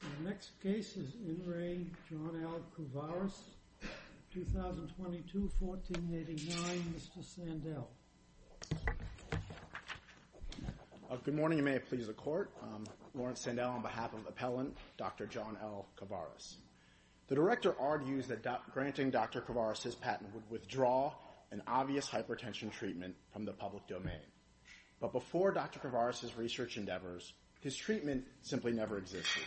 The next case is N. Ray John L. Couvaras, 2022, 1489. Mr. Sandell. Good morning. You may have pleased the court. Lawrence Sandell on behalf of the appellant, Dr. John L. Couvaras. The director argues that granting Dr. Couvaras his patent would withdraw an obvious hypertension treatment from the public domain. But before Dr. Couvaras' research endeavors, his treatment simply never existed.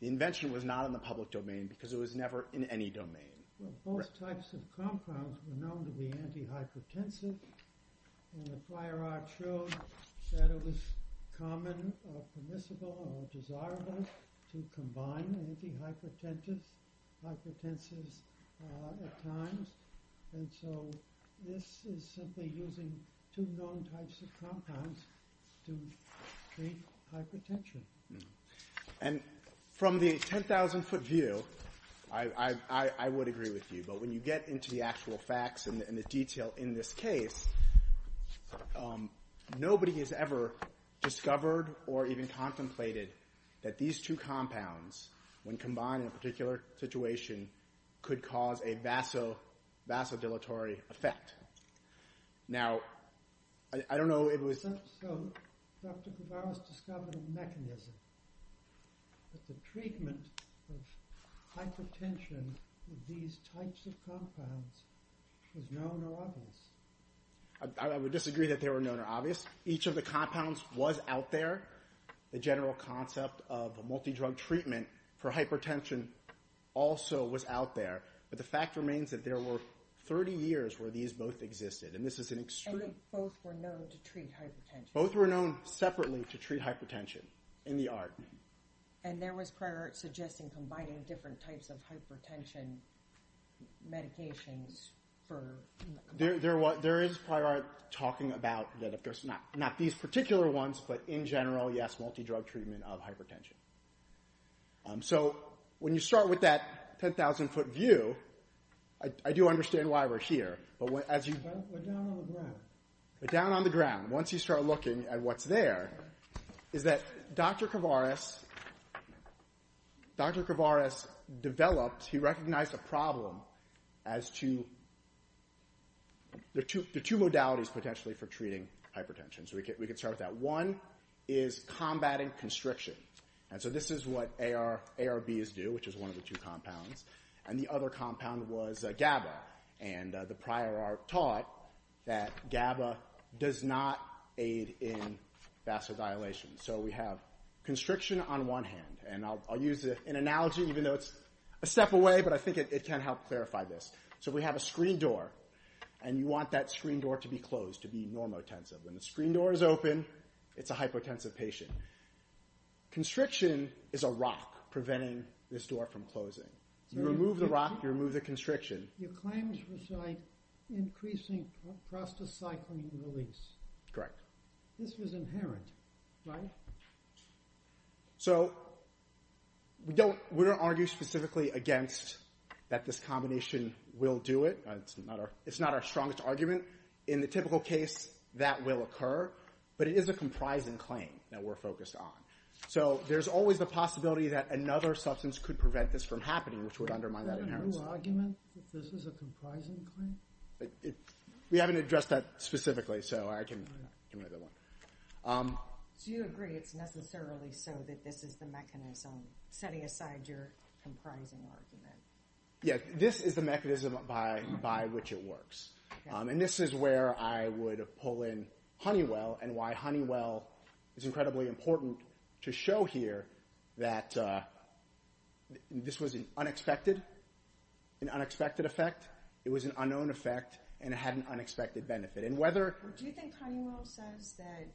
The invention was not in the public domain because it was never in any domain. Well, both types of compounds were known to be anti-hypertensive and the prior art showed that it was common or permissible or desirable to combine anti-hypertensives at times. And so this is simply using two known types of compounds to treat hypertension. And from the 10,000-foot view, I would agree with you. But when you get into the actual facts and the detail in this case, nobody has ever discovered or even contemplated that these two compounds, when combined in a particular situation, could cause a vasodilatory effect. Now, I don't know if it was... So Dr. Couvaras discovered a mechanism that the treatment of hypertension with these types of compounds was known or obvious? I would disagree that they were known or obvious. Each of the compounds was out there. The general concept of a multidrug treatment for hypertension also was out there. But the fact remains that there were 30 years where these both existed. And this is an extreme... And they both were known to treat hypertension? Both were known separately to treat hypertension in the art. And there was prior art suggesting combining different types of hypertension medications for... There is prior art talking about that, of course, not these particular ones, but in general, yes, multidrug treatment of hypertension. So when you start with that 10,000-foot view, I do understand why we're here. But as you... But down on the ground. But down on the ground, once you start looking at what's there, is that Dr. Couvaras... Dr. Couvaras developed... He recognized a problem as to... There are two modalities potentially for treating hypertension. So we could start with that. One is combating constriction. And so this is what ARBs do, which is one of the two compounds. And the other compound was GABA. And the prior art taught that GABA does not aid in And I'll use an analogy, even though it's a step away, but I think it can help clarify this. So we have a screen door, and you want that screen door to be closed, to be normotensive. When the screen door is open, it's a hypotensive patient. Constriction is a rock preventing this door from closing. You remove the rock, you remove the constriction. Your claims was like increasing prostacycline release. Correct. This was inherent, right? Correct. So we don't argue specifically against that this combination will do it. It's not our strongest argument. In the typical case, that will occur. But it is a comprising claim that we're focused on. So there's always the possibility that another substance could prevent this from happening, which would undermine that inheritance. Is that a new argument, that this is a comprising claim? We haven't addressed that specifically, so I can... Do you agree it's necessarily so that this is the mechanism, setting aside your comprising argument? Yeah, this is the mechanism by which it works. And this is where I would pull in Honeywell, and why Honeywell is incredibly important to show here that this was an unexpected, an unexpected effect. It was an unknown effect, and it had an unexpected benefit. Do you think Honeywell says that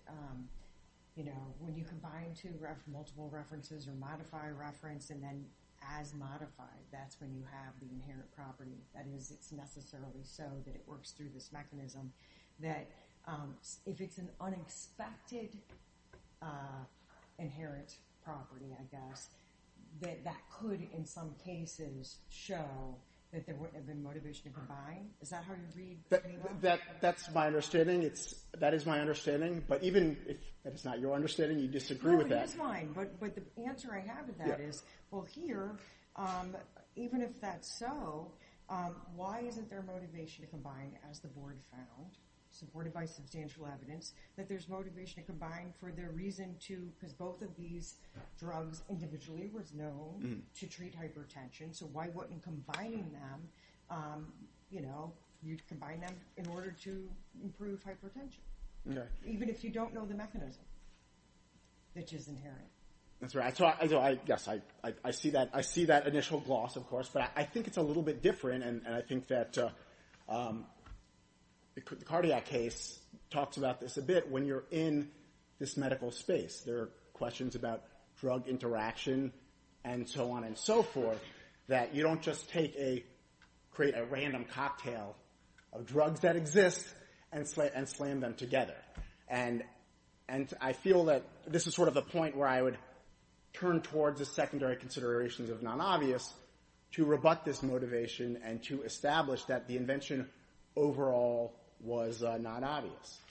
when you combine two multiple references, or modify a reference, and then as modified, that's when you have the inherent property? That is, it's necessarily so that it works through this mechanism, that if it's an unexpected inherent property, I guess, that that could, in some cases, show that there wouldn't have been motivation to combine? Is that how you read Honeywell? That's my understanding. It's... That is my understanding. But even if that is not your understanding, you disagree with that. No, it is mine, but the answer I have with that is, well, here, even if that's so, why isn't there motivation to combine, as the board found, supported by substantial evidence, that there's motivation to combine for their reason to... Because both of these drugs individually were known to treat hypertension. So why wouldn't combining them, you know, you combine them in order to improve hypertension? Even if you don't know the mechanism, which is inherent. That's right. So I guess I see that initial gloss, of course, but I think it's a little bit different. And I think that the cardiac case talks about this a bit when you're in this medical space. There are questions about drug interaction, and so on and so forth, that you don't just take a... Create a random cocktail of drugs that exist and slam them together. And I feel that this is sort of the point where I would turn towards the secondary considerations of non-obvious to rebut this motivation and to establish that the invention overall was non-obvious.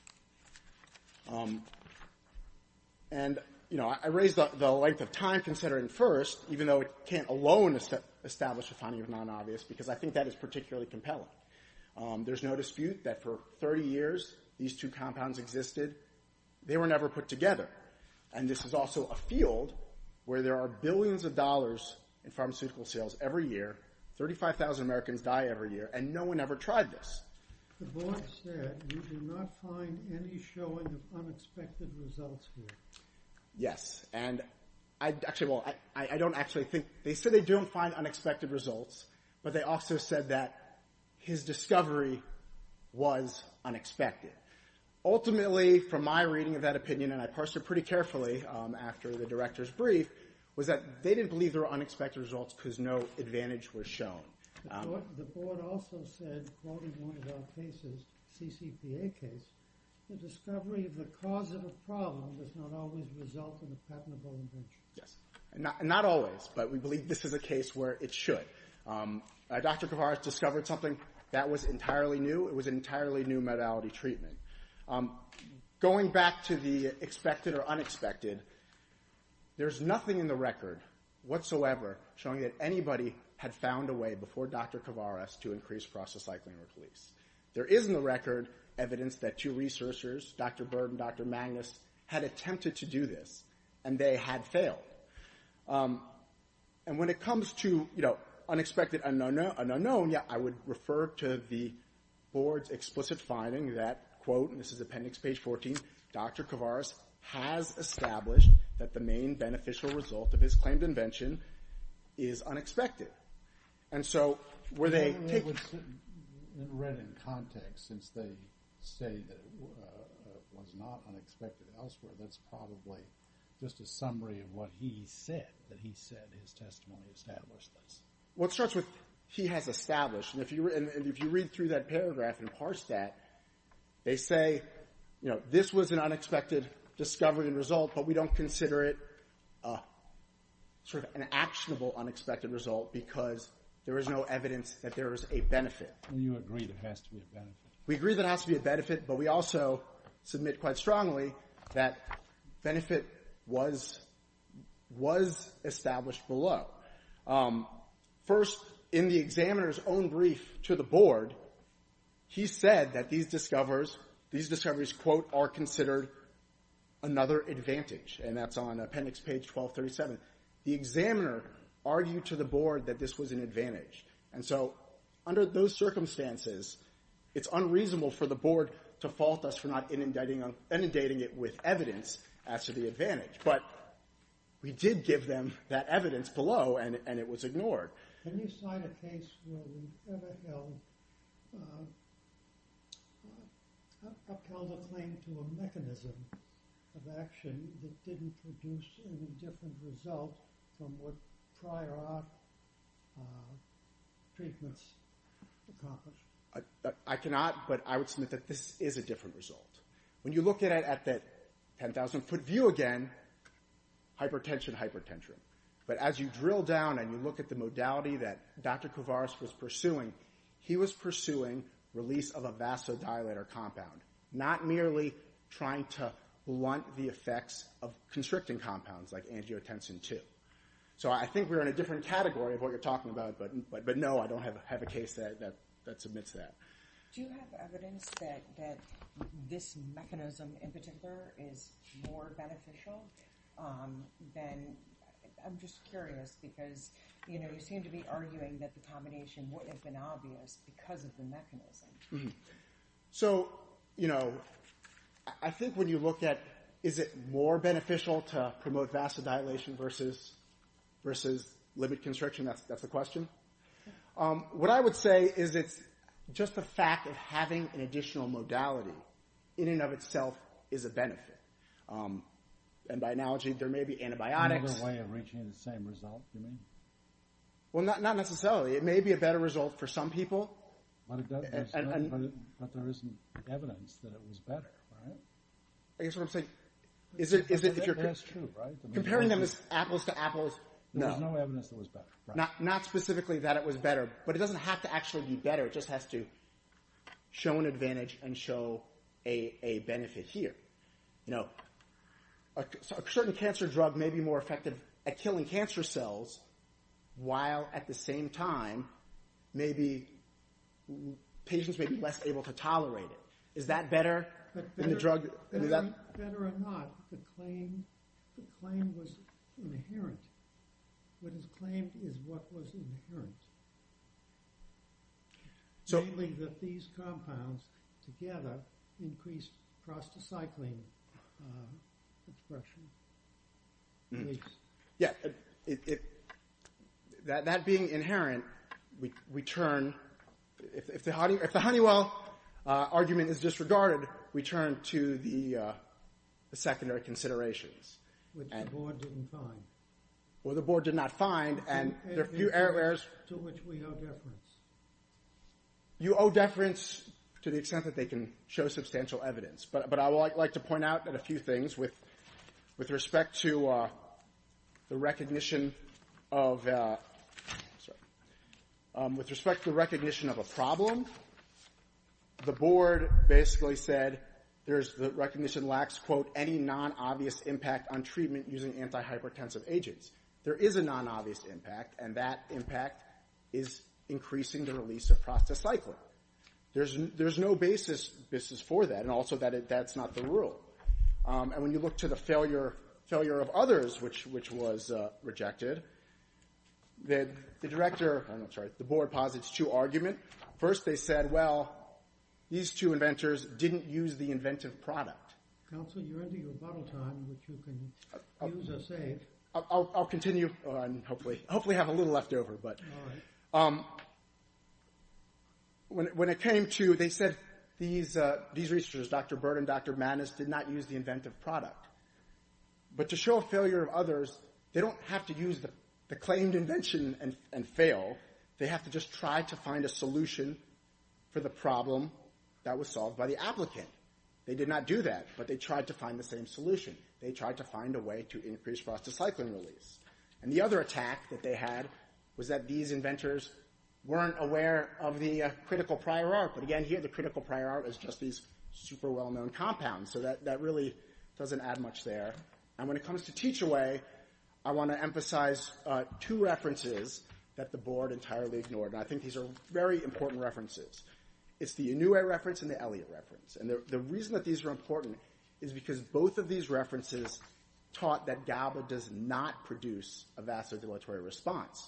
And, you know, I raised the length of time considering first, even though it can't alone establish the finding of non-obvious, because I think that is particularly compelling. There's no dispute that for 30 years, these two compounds existed. They were never put together. And this is also a field where there are billions of dollars in pharmaceutical sales every year. 35,000 Americans die every year. And no one ever tried this. The board said you did not find any showing of unexpected results here. Yes. And actually, well, I don't actually think... They said they don't find unexpected results, but they also said that his discovery was unexpected. Ultimately, from my reading of that opinion, and I parsed it pretty carefully after the director's brief, was that they didn't believe there were unexpected results because no advantage was shown. The board also said, quoting one of our cases, CCPA case, the discovery of the cause of a problem does not always result in a patentable invention. Yes. Not always. But we believe this is a case where it should. Dr. Kovares discovered something that was entirely new. It was an entirely new modality treatment. Going back to the expected or unexpected, there's nothing in the record whatsoever showing that anybody had found a way before Dr. Kovares to increase prostacycline release. There is, in the record, evidence that two researchers, Dr. Bird and Dr. Magnus, had attempted to do this, and they had failed. And when it comes to unexpected and unknown, I would refer to the board's explicit finding that, quote, and this is appendix page 14, Dr. Kovares has established that the main beneficial result of his claimed invention is unexpected. And so were they... Read in context, since they say that it was not unexpected elsewhere, that's probably just a summary of what he said, that he said his testimony established this. What starts with he has established, and if you read through that paragraph and parse that, they say, you know, this was an unexpected discovery and result, but we don't consider it sort of an actionable unexpected result because there is no evidence that there is a benefit. And you agree there has to be a benefit. We agree there has to be a benefit, but we also submit quite strongly that benefit was established below. First, in the examiner's own brief to the board, he said that these discoveries, these discoveries, quote, are considered another advantage, and that's on appendix page 1237. The examiner argued to the board that this was an advantage. And so under those circumstances, it's unreasonable for the board to fault us for not inundating it with evidence as to the advantage. But we did give them that evidence below, and it was ignored. Can you cite a case where we ever held, upheld a claim to a mechanism of action that didn't produce any different result from what prior art treatments accomplished? I cannot, but I would submit that this is a different result. When you look at it at that 10,000-foot view again, hypertension, hypertension. But as you drill down and you look at the modality that Dr. Kouvaras was pursuing, he was pursuing release of a vasodilator compound, not merely trying to blunt the effects of constricting compounds like angiotensin II. So I think we're in a different category of what you're talking about, but no, I don't have a case that submits that. Do you have evidence that this mechanism in particular is more beneficial than, I'm just curious because, you know, you seem to be arguing that the combination wouldn't have been obvious because of the mechanism. Mm-hmm. So, you know, I think when you look at, is it more beneficial to promote vasodilation versus limit constriction, that's the question. What I would say is it's just the fact of having an additional modality in and of itself is a benefit. And by analogy, there may be antibiotics. Another way of reaching the same result, you mean? Well, not necessarily. It may be a better result for some people. But there isn't evidence that it was better, right? I guess what I'm saying is if you're comparing them as apples to apples, no. There was no evidence that it was better. Not specifically that it was better, but it doesn't have to actually be better. It just has to show an advantage and show a benefit here. You know, a certain cancer drug may be more effective at killing cancer cells, while at the same time, maybe patients may be less able to tolerate it. Is that better than the drug? Better or not, the claim was inherent. What is claimed is what was inherent. Mainly that these compounds together increased prostacycline expression. Please. Yeah, that being inherent, we turn, if the Honeywell argument is disregarded, we turn to the secondary considerations. Which the board didn't find. Well, the board did not find, and there are a few errors. To which we owe deference. You owe deference to the extent that they can show substantial evidence. But I would like to point out that a few things with respect to the recognition of a problem. The board basically said, the recognition lacks, quote, any non-obvious impact on treatment using antihypertensive agents. There is a non-obvious impact, and that impact is increasing the release of prostacycline. There's no basis for that. And also, that's not the rule. And when you look to the failure of others, which was rejected, that the director, I'm sorry, the board posits two arguments. First, they said, well, these two inventors didn't use the inventive product. Counsel, you're into your bottle time, which you can use or save. I'll continue, and hopefully have a little left over. But when it came to, they said, these researchers, Dr. Bird and Dr. Mannes, did not use the inventive product. But to show failure of others, they don't have to use the claimed invention and fail. They have to just try to find a solution for the problem that was solved by the applicant. They did not do that, but they tried to find the same solution. They tried to find a way to increase prostacycline release. And the other attack that they had was that these inventors weren't aware of the critical prior art. But again, here, the critical prior art is just these super well-known compounds. That really doesn't add much there. And when it comes to Teach-A-Way, I want to emphasize two references that the board entirely ignored. I think these are very important references. It's the Inouye reference and the Elliott reference. And the reason that these are important is because both of these references taught that GABA does not produce a vasodilatory response.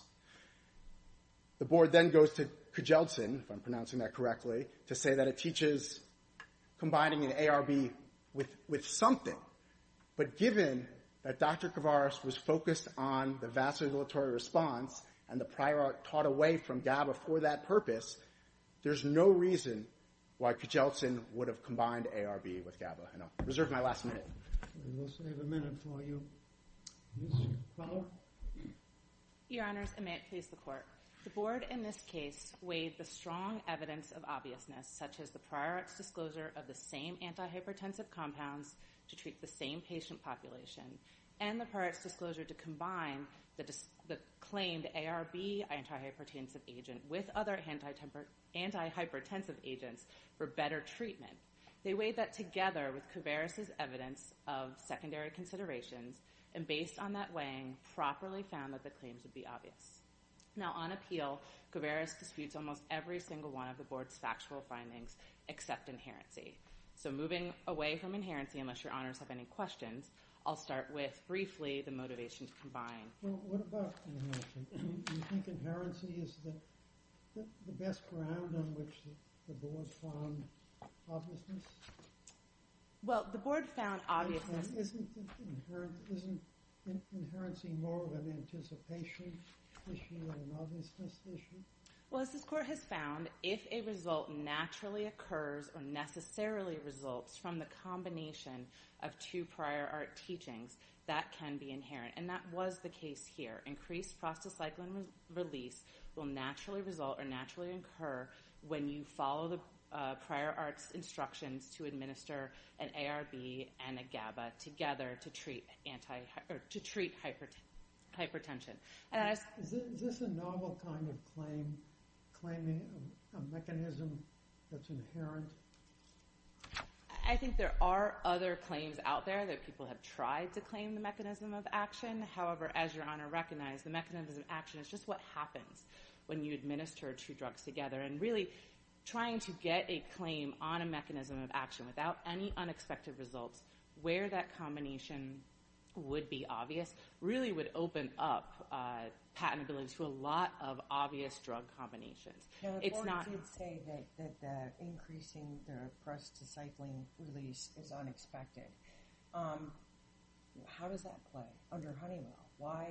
The board then goes to Kjeldsen, if I'm pronouncing that correctly, to say that it teaches combining an ARB with something. But given that Dr. Kvaras was focused on the vasodilatory response and the prior art taught away from GABA for that purpose, there's no reason why Kjeldsen would have combined ARB with GABA. And I'll reserve my last minute. And we'll save a minute for you. Yes, ma'am. Follow-up? Your Honors, and may it please the Court. The board in this case weighed the strong evidence of obviousness, such as the prior art's disclosure of the same antihypertensive compounds to treat the same patient population and the prior art's disclosure to combine the claimed ARB antihypertensive agent with other antihypertensive agents for better treatment. They weighed that together with Kvaras' evidence of secondary considerations. And based on that weighing, properly found that the claims would be obvious. Now on appeal, Kvaras disputes almost every single one of the board's factual findings except inherency. So moving away from inherency, unless your Honors have any questions, I'll start with briefly the motivation to combine. Well, what about inherency? Do you think inherency is the best ground on which the board found obviousness? Well, the board found obviousness. And isn't inherency more of an anticipation issue than an obviousness issue? Well, as this court has found, if a result naturally occurs or necessarily results from the combination of two prior art teachings, that can be inherent. And that was the case here. Increased prostacyclin release will naturally result or naturally incur when you follow the prior art's instructions to administer an ARB and a GABA together to treat hypertension. Is this a novel kind of claim, claiming a mechanism that's inherent? I think there are other claims out there that people have tried to claim the mechanism of action. However, as your Honor recognized, the mechanism of action is just what happens when you administer two drugs together. And really trying to get a claim on a mechanism of action without any unexpected results where that combination would be obvious really would open up patentability to a lot of obvious drug combinations. The court did say that increasing the prostacyclin release is unexpected. How does that play under Honeywell? Why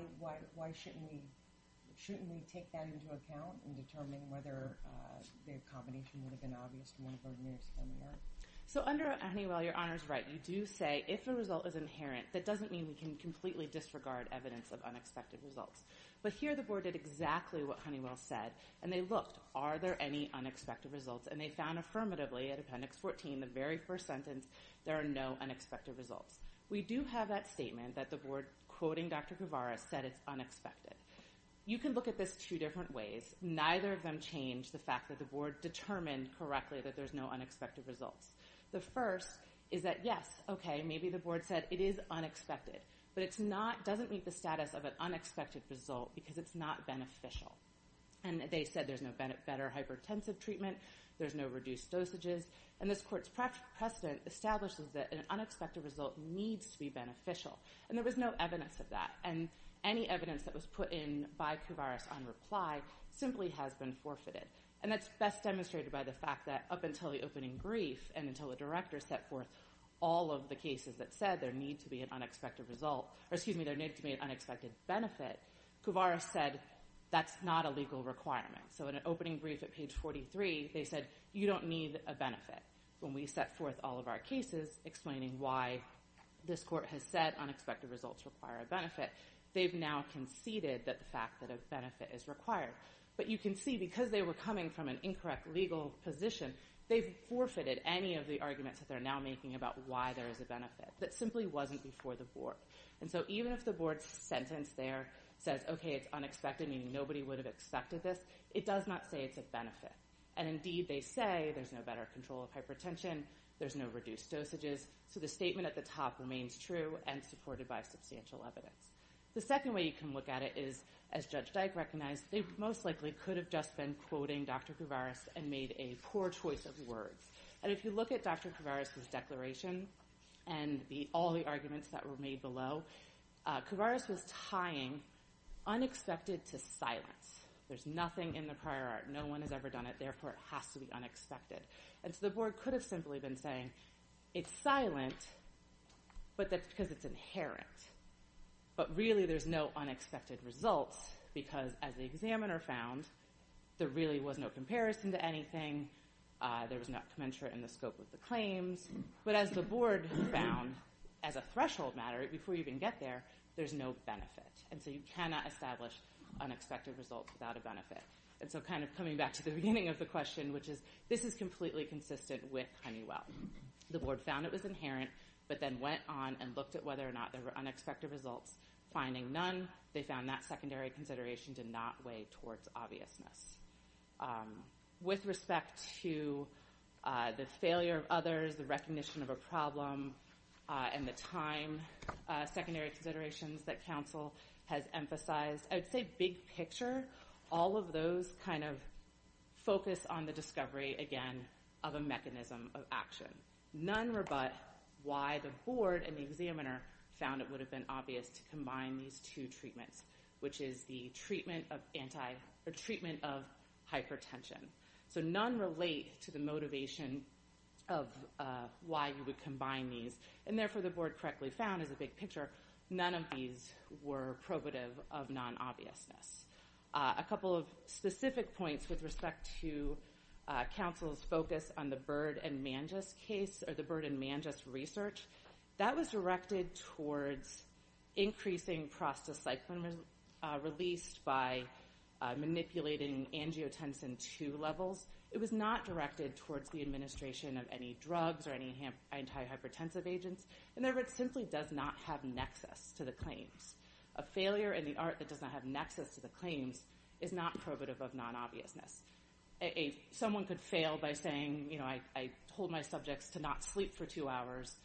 shouldn't we take that into account in determining whether the combination would have been obvious to one of our nearest and nearest? So under Honeywell, your Honor's right. You do say if a result is inherent, that doesn't mean we can disregard evidence of unexpected results. But here the board did exactly what Honeywell said, and they looked, are there any unexpected results? And they found affirmatively at appendix 14, the very first sentence, there are no unexpected results. We do have that statement that the board quoting Dr. Guevara said it's unexpected. You can look at this two different ways. Neither of them change the fact that the board determined correctly that there's no unexpected results. The first is that yes, okay, maybe the board said it is unexpected, but it doesn't meet the status of an unexpected result because it's not beneficial. And they said there's no better hypertensive treatment. There's no reduced dosages. And this court's precedent establishes that an unexpected result needs to be beneficial. And there was no evidence of that. And any evidence that was put in by Guevara's on reply simply has been forfeited. And that's best demonstrated by the fact that up until the opening brief and until the director set forth all of the cases that said there need to be an unexpected result, or excuse me, there need to be an unexpected benefit, Guevara said that's not a legal requirement. So in an opening brief at page 43, they said you don't need a benefit. When we set forth all of our cases explaining why this court has said unexpected results require a benefit, they've now conceded that the fact that a benefit is required. But you can see because they were coming from an incorrect legal position, they've forfeited any of the arguments that they're now making about why there is a benefit. That simply wasn't before the board. And so even if the board's sentence there says, okay, it's unexpected, meaning nobody would have accepted this, it does not say it's a benefit. And indeed they say there's no better control of hypertension, there's no reduced dosages. So the statement at the top remains true and supported by substantial evidence. The second way you can look at it is as Judge Dyke recognized, they most likely could have just been quoting Dr. Guevara and made a poor choice of words. And if you look at Dr. Guevara's declaration and all the arguments that were made below, Guevara's was tying unexpected to silence. There's nothing in the prior art, no one has ever done it, therefore it has to be unexpected. And so the board could have simply been saying, it's silent, but that's because it's inherent. But really there's no unexpected results because as the examiner found, there really was no comparison to anything. There was not commensurate in the scope of the claims. But as the board found, as a threshold matter, before you even get there, there's no benefit. And so you cannot establish unexpected results without a benefit. And so kind of coming back to the beginning of the question, which is, this is completely consistent with Honeywell. The board found it was inherent, but then went on and looked at whether or not there were unexpected results. Finding none, they found that secondary consideration did not weigh towards obviousness. With respect to the failure of others, the recognition of a problem, and the time, secondary considerations that counsel has emphasized. I'd say big picture, all of those kind of focus on the discovery, again, of a mechanism of action. None were but why the board and the examiner found it would have been obvious to combine these two treatments, which is the treatment of hypertension. So none relate to the motivation of why you would combine these. And therefore, the board correctly found as a big picture, none of these were probative of non-obviousness. A couple of specific points with respect to counsel's focus on the Byrd and Mangess case, or the Byrd and Mangess research. That was directed towards increasing prostacyclin released by manipulating angiotensin II levels. It was not directed towards the administration of any drugs or any antihypertensive agents. And therefore, it simply does not have nexus to the claims. A failure in the art that does not have nexus to the claims is not probative of non-obviousness. Someone could fail by saying, you know, I told my subjects to not sleep for two hours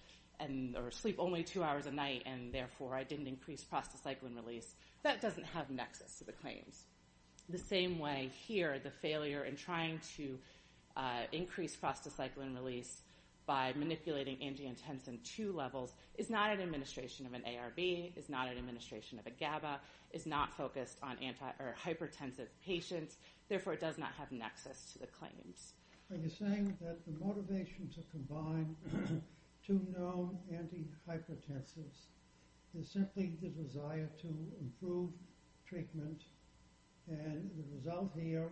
and or sleep only two hours a night. And therefore, I didn't increase prostacyclin release. That doesn't have nexus to the claims. The same way here, the failure in trying to increase prostacyclin release by manipulating angiotensin II levels is not an administration of an ARB, is not an administration of a GABA, is not focused on hypertensive patients. Therefore, it does not have nexus to the claims. Are you saying that the motivation to combine two known antihypertensives is simply the desire to improve treatment and the result here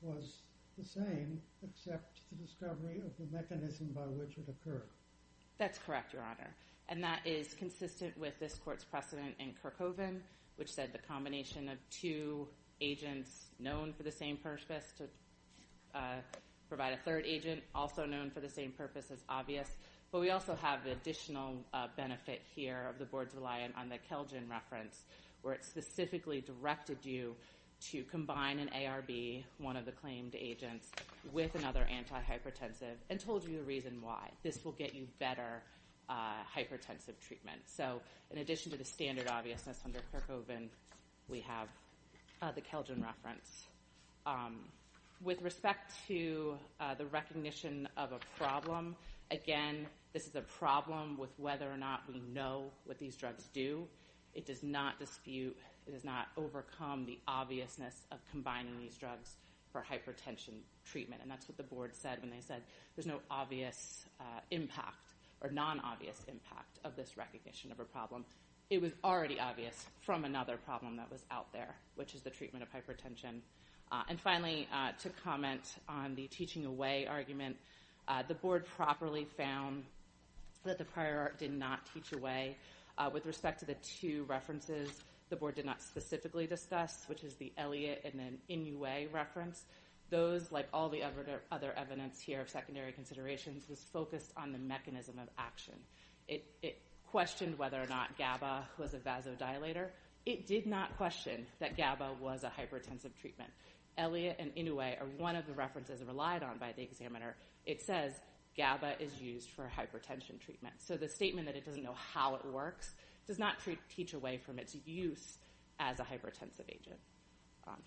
was the same except the discovery of the mechanism by which it occurred? That's correct, Your Honor. And that is consistent with this court's precedent in Kirkoven, which said the combination of two agents known for the same purpose to provide a third agent also known for the same purpose as obvious. But we also have the additional benefit here of the boards reliant on the Kelgen reference where it specifically directed you to combine an ARB, one of the claimed agents, with another antihypertensive and told you the reason why. This will get you better hypertensive treatment. So in addition to the standard obviousness under Kirkoven, we have the Kelgen reference. With respect to the recognition of a problem, again, this is a problem with whether or not we know It does not dispute, it does not overcome the obviousness of combining these drugs for hypertension treatment. And that's what the board said when they said there's no obvious impact or non-obvious impact of this recognition of a problem. It was already obvious from another problem that was out there, which is the treatment of hypertension. And finally, to comment on the teaching away argument, the board properly found that the prior art did not teach away. With respect to the two references, the board did not specifically discuss, which is the Elliott and then Inouye reference. Those, like all the other evidence here of secondary considerations, was focused on the mechanism of action. It questioned whether or not GABA was a vasodilator. It did not question that GABA was a hypertensive treatment. Elliott and Inouye are one of the references relied on by the examiner. It says GABA is used for hypertension treatment. So the statement that it doesn't know how it works does not teach away from its use as a hypertensive agent.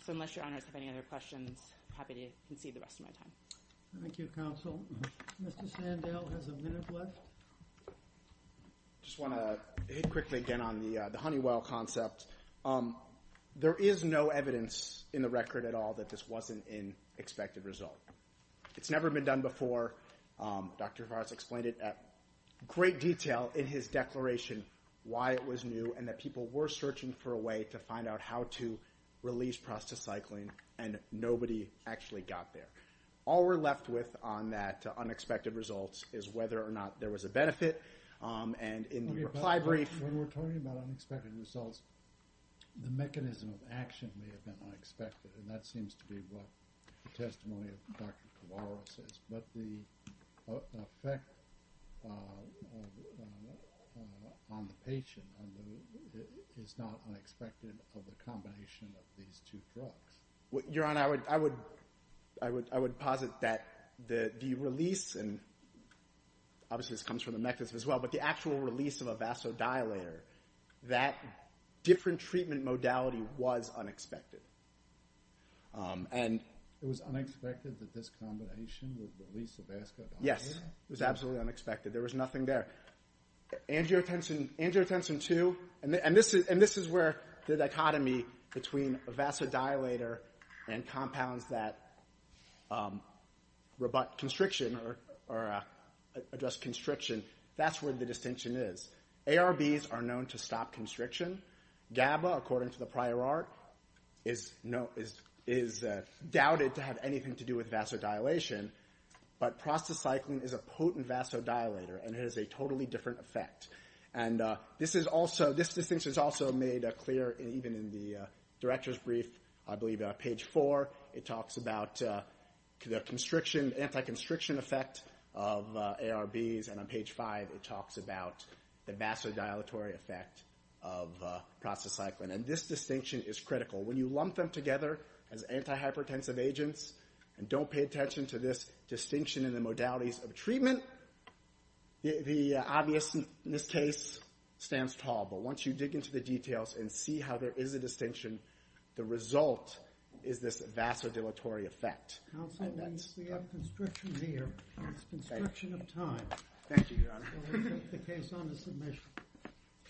So unless your honors have any other questions, I'm happy to concede the rest of my time. Thank you, counsel. Mr. Sandel has a minute left. Just want to hit quickly again on the Honeywell concept. There is no evidence in the record at all that this wasn't an expected result. It's never been done before. Dr. Vars explained it at great detail in his declaration why it was new and that people were searching for a way to find out how to release prostacycline and nobody actually got there. All we're left with on that unexpected results is whether or not there was a benefit. And in the reply brief... When we're talking about unexpected results, the mechanism of action may have been unexpected. And that seems to be what the testimony of Dr. Kavara says. But the effect on the patient is not unexpected of the combination of these two drugs. Your Honor, I would posit that the release, and obviously this comes from the mechanism as well, but the actual release of a vasodilator, that different treatment modality was unexpected. And... It was unexpected that this combination would release a vasodilator? Yes, it was absolutely unexpected. There was nothing there. Angiotensin 2, and this is where the dichotomy between a vasodilator and compounds that rebut constriction or address constriction, that's where the distinction is. ARBs are known to stop constriction. GABA, according to the prior art, is doubted to have anything to do with vasodilation. But prostacyclin is a potent vasodilator and it has a totally different effect. And this distinction is also made clear even in the director's brief, I believe on page four, it talks about the anti-constriction effect of ARBs. And on page five, it talks about the vasodilatory effect of prostacyclin. And this distinction is critical. When you lump them together as antihypertensive agents, and don't pay attention to this distinction in the modalities of treatment, the obviousness case stands tall. But once you dig into the details and see how there is a distinction, the result is this vasodilatory effect. Counsel, we see a constriction here. It's constriction of time. Thank you, Your Honor. We'll take the case on to submission.